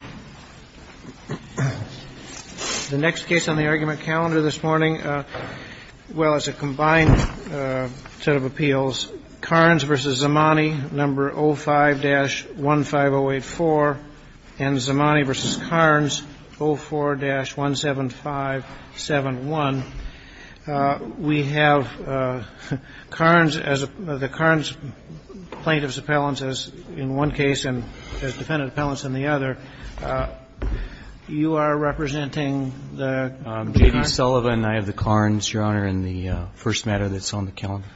number 05-15084 and Zamani v. Karnes, 04-17571, we have Karnes as the Karnes plaintiff's appellants as in one case and as defendant appellants in the other, and Zamani is the plaintiff's. Kagan, you are representing the Karnes? Sullivan, I have the Karnes, Your Honor, in the first matter that's on the calendar.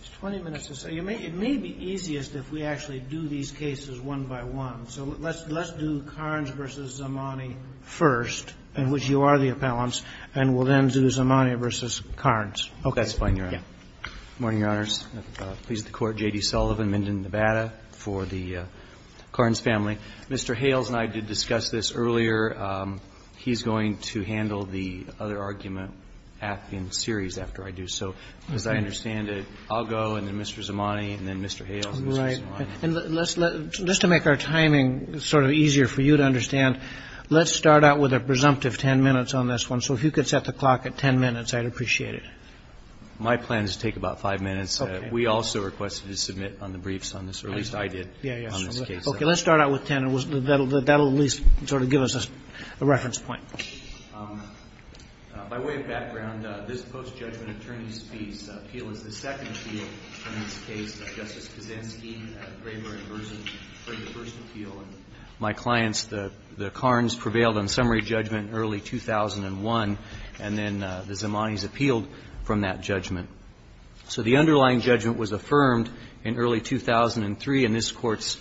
It's 20 minutes to say. It may be easiest if we actually do these cases one by one. So let's do Karnes v. Zamani first, in which you are the appellants, and we'll then do Zamani v. Karnes. Okay. That's fine, Your Honor. Good morning, Your Honors. Pleased to court, J.D. Sullivan, Minden, Nevada, for the Karnes family. Mr. Hales and I did discuss this earlier. He's going to handle the other argument in series after I do so. As I understand it, I'll go and then Mr. Zamani and then Mr. Hales and then Mr. Zamani. Right. And let's let, just to make our timing sort of easier for you to understand, let's start out with a presumptive 10 minutes on this one. So if you could set the clock at 10 minutes, I'd appreciate it. My plan is to take about 5 minutes. Okay. We also requested to submit on the briefs on this, or at least I did on this case. Okay. Let's start out with 10. That will at least sort of give us a reference point. By way of background, this post-judgment attorney's fees appeal is the second appeal in this case. Justice Kazansky, Graber, and Burson heard the first appeal. And my clients, the Karnes prevailed on summary judgment early 2001, and then the So the underlying judgment was affirmed in early 2003 in this Court's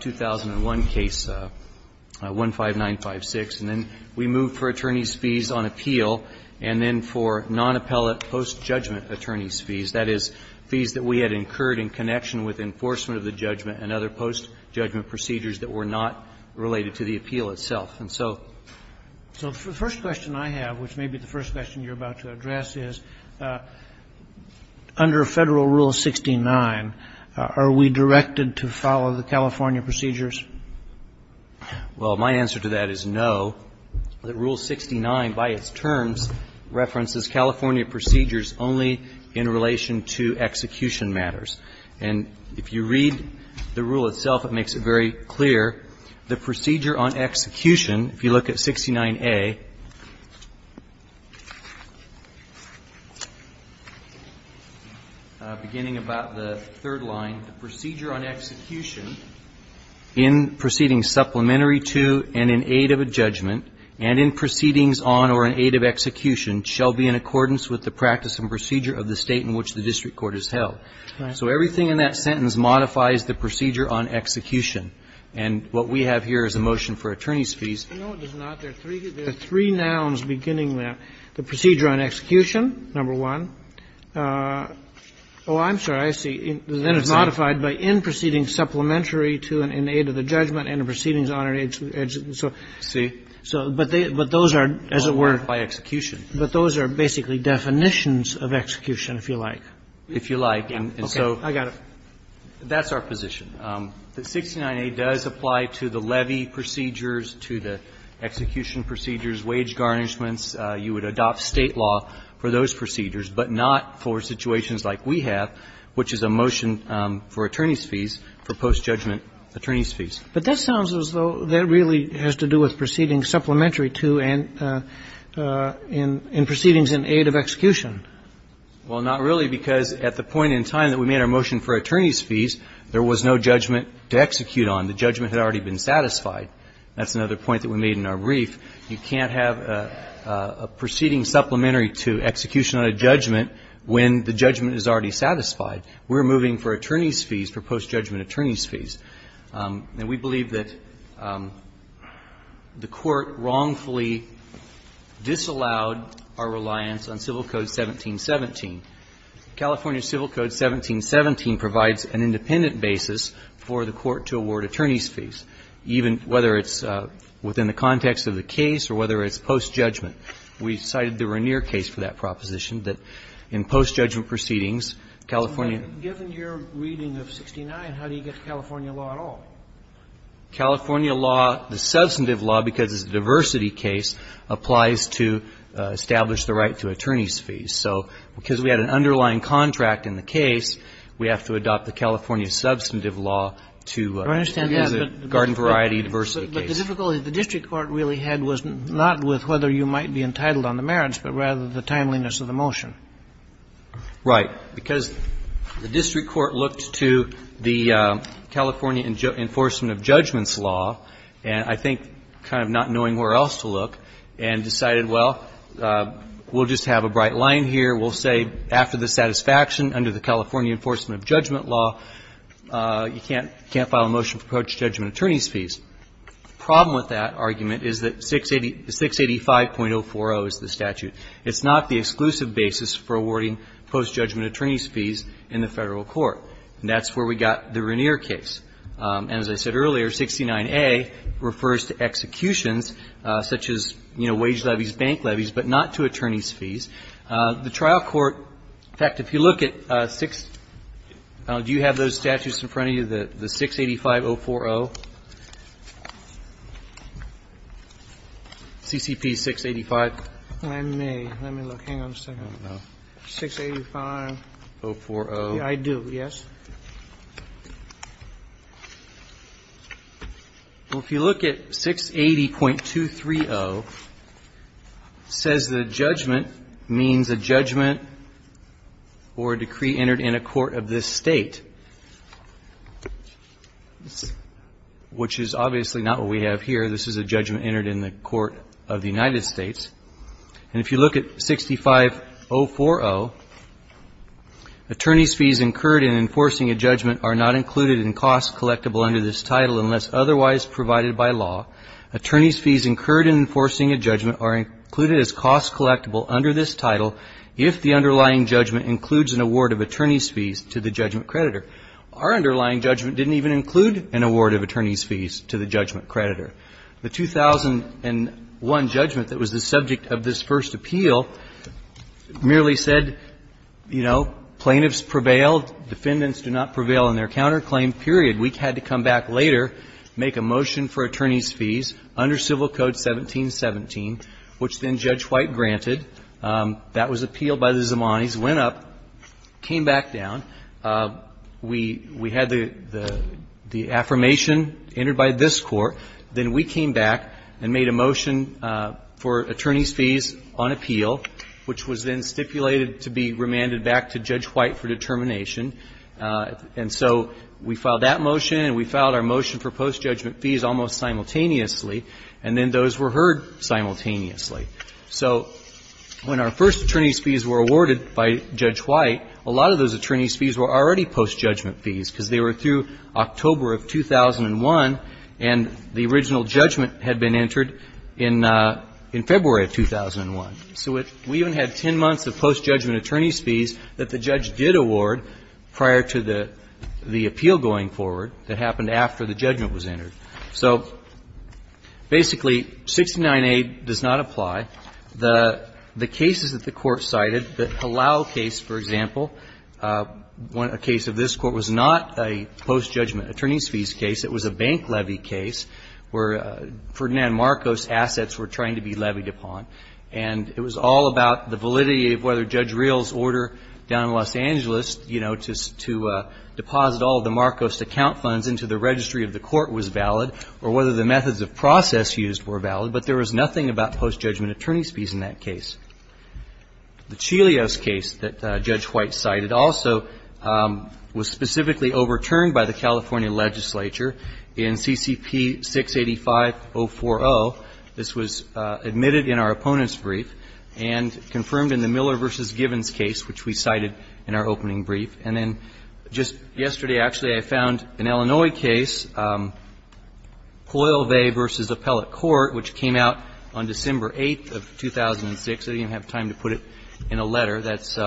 2001 case 15956. And then we moved for attorney's fees on appeal and then for nonappellate post-judgment attorney's fees, that is, fees that we had incurred in connection with enforcement of the judgment and other post-judgment procedures that were not related to the appeal itself. And so the first question I have, which may be the first question you're about to address, is under Federal Rule 69, are we directed to follow the California procedures? Well, my answer to that is no. Rule 69, by its terms, references California procedures only in relation to execution matters. And if you read the rule itself, it makes it very clear the procedure on execution, if you look at 69A, beginning about the third line, the procedure on execution in proceedings supplementary to and in aid of a judgment and in proceedings on or in aid of execution shall be in accordance with the practice and procedure of the State in which the district court is held. So everything in that sentence modifies the procedure on execution. And what we have here is a motion for attorney's fees. No, it does not. There are three nouns beginning there. The procedure on execution, number one. Oh, I'm sorry. I see. Then it's modified by in proceedings supplementary to and in aid of the judgment and in proceedings on or in aid of the judgment. See? But those are, as it were by execution. But those are basically definitions of execution, if you like. If you like. Okay. I got it. That's our position. The 69A does apply to the levy procedures, to the execution procedures, wage garnishments. You would adopt State law for those procedures, but not for situations like we have, which is a motion for attorney's fees, for post-judgment attorney's fees. But that sounds as though that really has to do with proceedings supplementary to and in proceedings in aid of execution. Well, not really, because at the point in time that we made our motion for attorney's fees, there was no judgment to execute on. The judgment had already been satisfied. That's another point that we made in our brief. You can't have a proceeding supplementary to execution on a judgment when the judgment is already satisfied. We're moving for attorney's fees for post-judgment attorney's fees. And we believe that the Court wrongfully disallowed our reliance on Civil Code 1717. California Civil Code 1717 provides an independent basis for the Court to award attorney's fees, even whether it's within the context of the case or whether it's post-judgment. We cited the Regnier case for that proposition, that in post-judgment proceedings, California ---- But that doesn't apply to California law at all. California law, the substantive law, because it's a diversity case, applies to establish the right to attorney's fees. So because we had an underlying contract in the case, we have to adopt the California substantive law to a garden variety diversity case. But the difficulty the district court really had was not with whether you might be entitled on the merits, but rather the timeliness of the motion. Right. Because the district court looked to the California enforcement of judgments law, and I think kind of not knowing where else to look, and decided, well, we'll just have a bright line here. We'll say after the satisfaction under the California enforcement of judgment law, you can't file a motion for post-judgment attorney's fees. The problem with that argument is that 685.040 is the statute. It's not the exclusive basis for awarding post-judgment attorney's fees in the Federal Court. And that's where we got the Regnier case. And as I said earlier, 69A refers to executions such as, you know, wage levies, bank levies, but not to attorney's fees. The trial court ---- in fact, if you look at 6 ---- do you have those statutes in front of you, the 685.040? CCP 685? Let me look. Hang on a second. I don't know. 685.040. I do, yes. Well, if you look at 680.230, it says the judgment means a judgment or a decree entered in a court of this State, which is obviously not what we have here. This is a judgment entered in the court of the United States. And if you look at 650.040, attorney's fees incurred in enforcing a judgment are not included in cost collectible under this title unless otherwise provided by law. Attorney's fees incurred in enforcing a judgment are included as cost collectible under this title if the underlying judgment includes an award of attorney's fees to the judgment creditor. Our underlying judgment didn't even include an award of attorney's fees to the judgment creditor. The 2001 judgment that was the subject of this first appeal merely said, you know, plaintiffs prevail, defendants do not prevail in their counterclaim, period. We had to come back later, make a motion for attorney's fees under Civil Code 1717, which then Judge White granted. That was appealed by the Zamanis, went up, came back down. We had the affirmation entered by this Court. Then we came back and made a motion for attorney's fees on appeal, which was then stipulated to be remanded back to Judge White for determination. And so we filed that motion and we filed our motion for post-judgment fees almost simultaneously, and then those were heard simultaneously. So when our first attorney's fees were awarded by Judge White, a lot of those attorney's fees were already post-judgment fees because they were through October of 2001, and the original judgment had been entered in February of 2001. So we even had 10 months of post-judgment attorney's fees that the judge did award prior to the appeal going forward that happened after the judgment was entered. So basically, 69A does not apply. The cases that the Court cited, the Palau case, for example, a case of this Court was not a post-judgment attorney's fees case. It was a bank levy case where Ferdinand Marcos' assets were trying to be levied upon. And it was all about the validity of whether Judge Real's order down in Los Angeles to deposit all of the Marcos' account funds into the registry of the Court was valid or whether the methods of process used were valid. But there was nothing about post-judgment attorney's fees in that case. The Chilios case that Judge White cited also was specifically overturned by the California legislature in CCP 685.040. This was admitted in our opponent's brief and confirmed in the Miller v. Givens case, which we cited in our opening brief. And then just yesterday, actually, I found an Illinois case, Coyle Vay v. Appellate Court, which came out on December 8th of 2006. And the California legislature, that's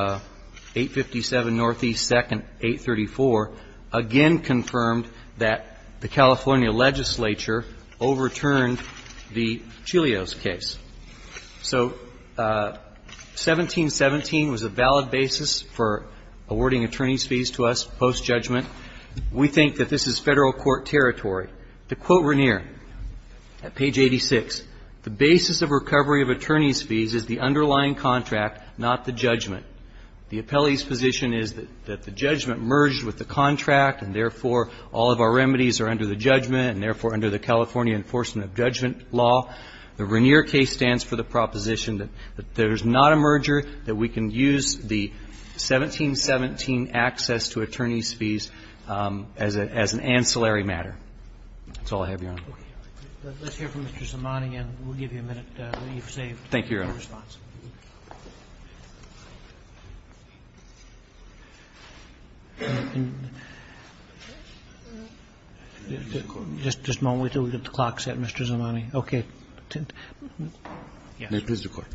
857 Northeast 2nd, 834, again confirmed that the California legislature overturned the Chilios case. So 1717 was a valid basis for awarding attorney's fees to us post-judgment. We think that this is Federal court territory. To quote Regnier at page 86, the basis of recovery of attorney's fees is the underlying contract, not the judgment. The appellee's position is that the judgment merged with the contract, and therefore all of our remedies are under the judgment and therefore under the California enforcement of judgment law. The Regnier case stands for the proposition that there's not a merger, that we can use the 1717 access to attorney's fees as an ancillary matter. That's all I have, Your Honor. Okay. Let's hear from Mr. Zamani, and we'll give you a minute. You've saved your response. Thank you, Your Honor. Just a moment until we get the clock set, Mr. Zamani. Okay. Yes. May I please record?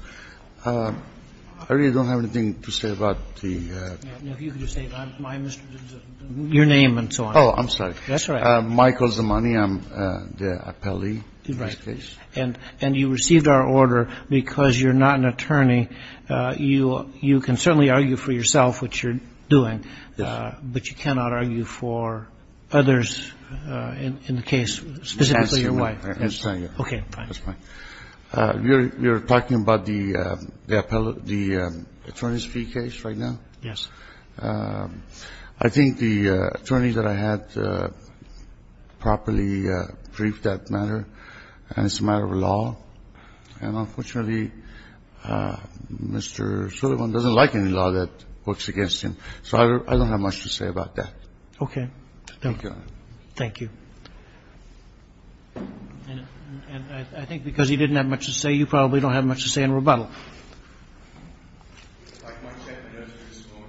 I really don't have anything to say about the ---- If you could just say my Mr. Zamani. Your name and so on. Oh, I'm sorry. That's all right. Michael Zamani. I'm the appellee in this case. Right. And you received our order because you're not an attorney. You can certainly argue for yourself what you're doing. Yes. But you cannot argue for others in the case, specifically your wife. Yes, I can. Okay, fine. That's fine. You're talking about the appellate, the attorney's fee case right now? Yes. I think the attorney that I had properly briefed that matter. And it's a matter of law. And unfortunately, Mr. Sullivan doesn't like any law that works against him. So I don't have much to say about that. Okay. Thank you, Your Honor. Thank you. And I think because he didn't have much to say, you probably don't have much to say in rebuttal. I'd like to make a motion at this point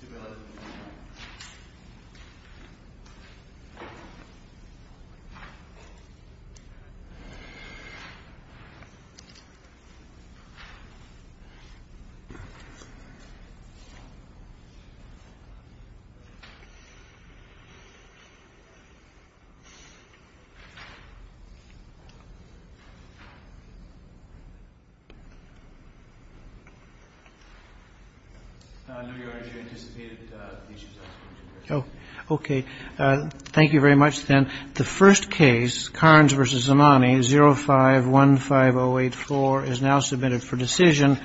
to bill it. Okay. Thank you very much, then. The first case, Carnes v. Zamani, 05-15084, is now submitted for decision.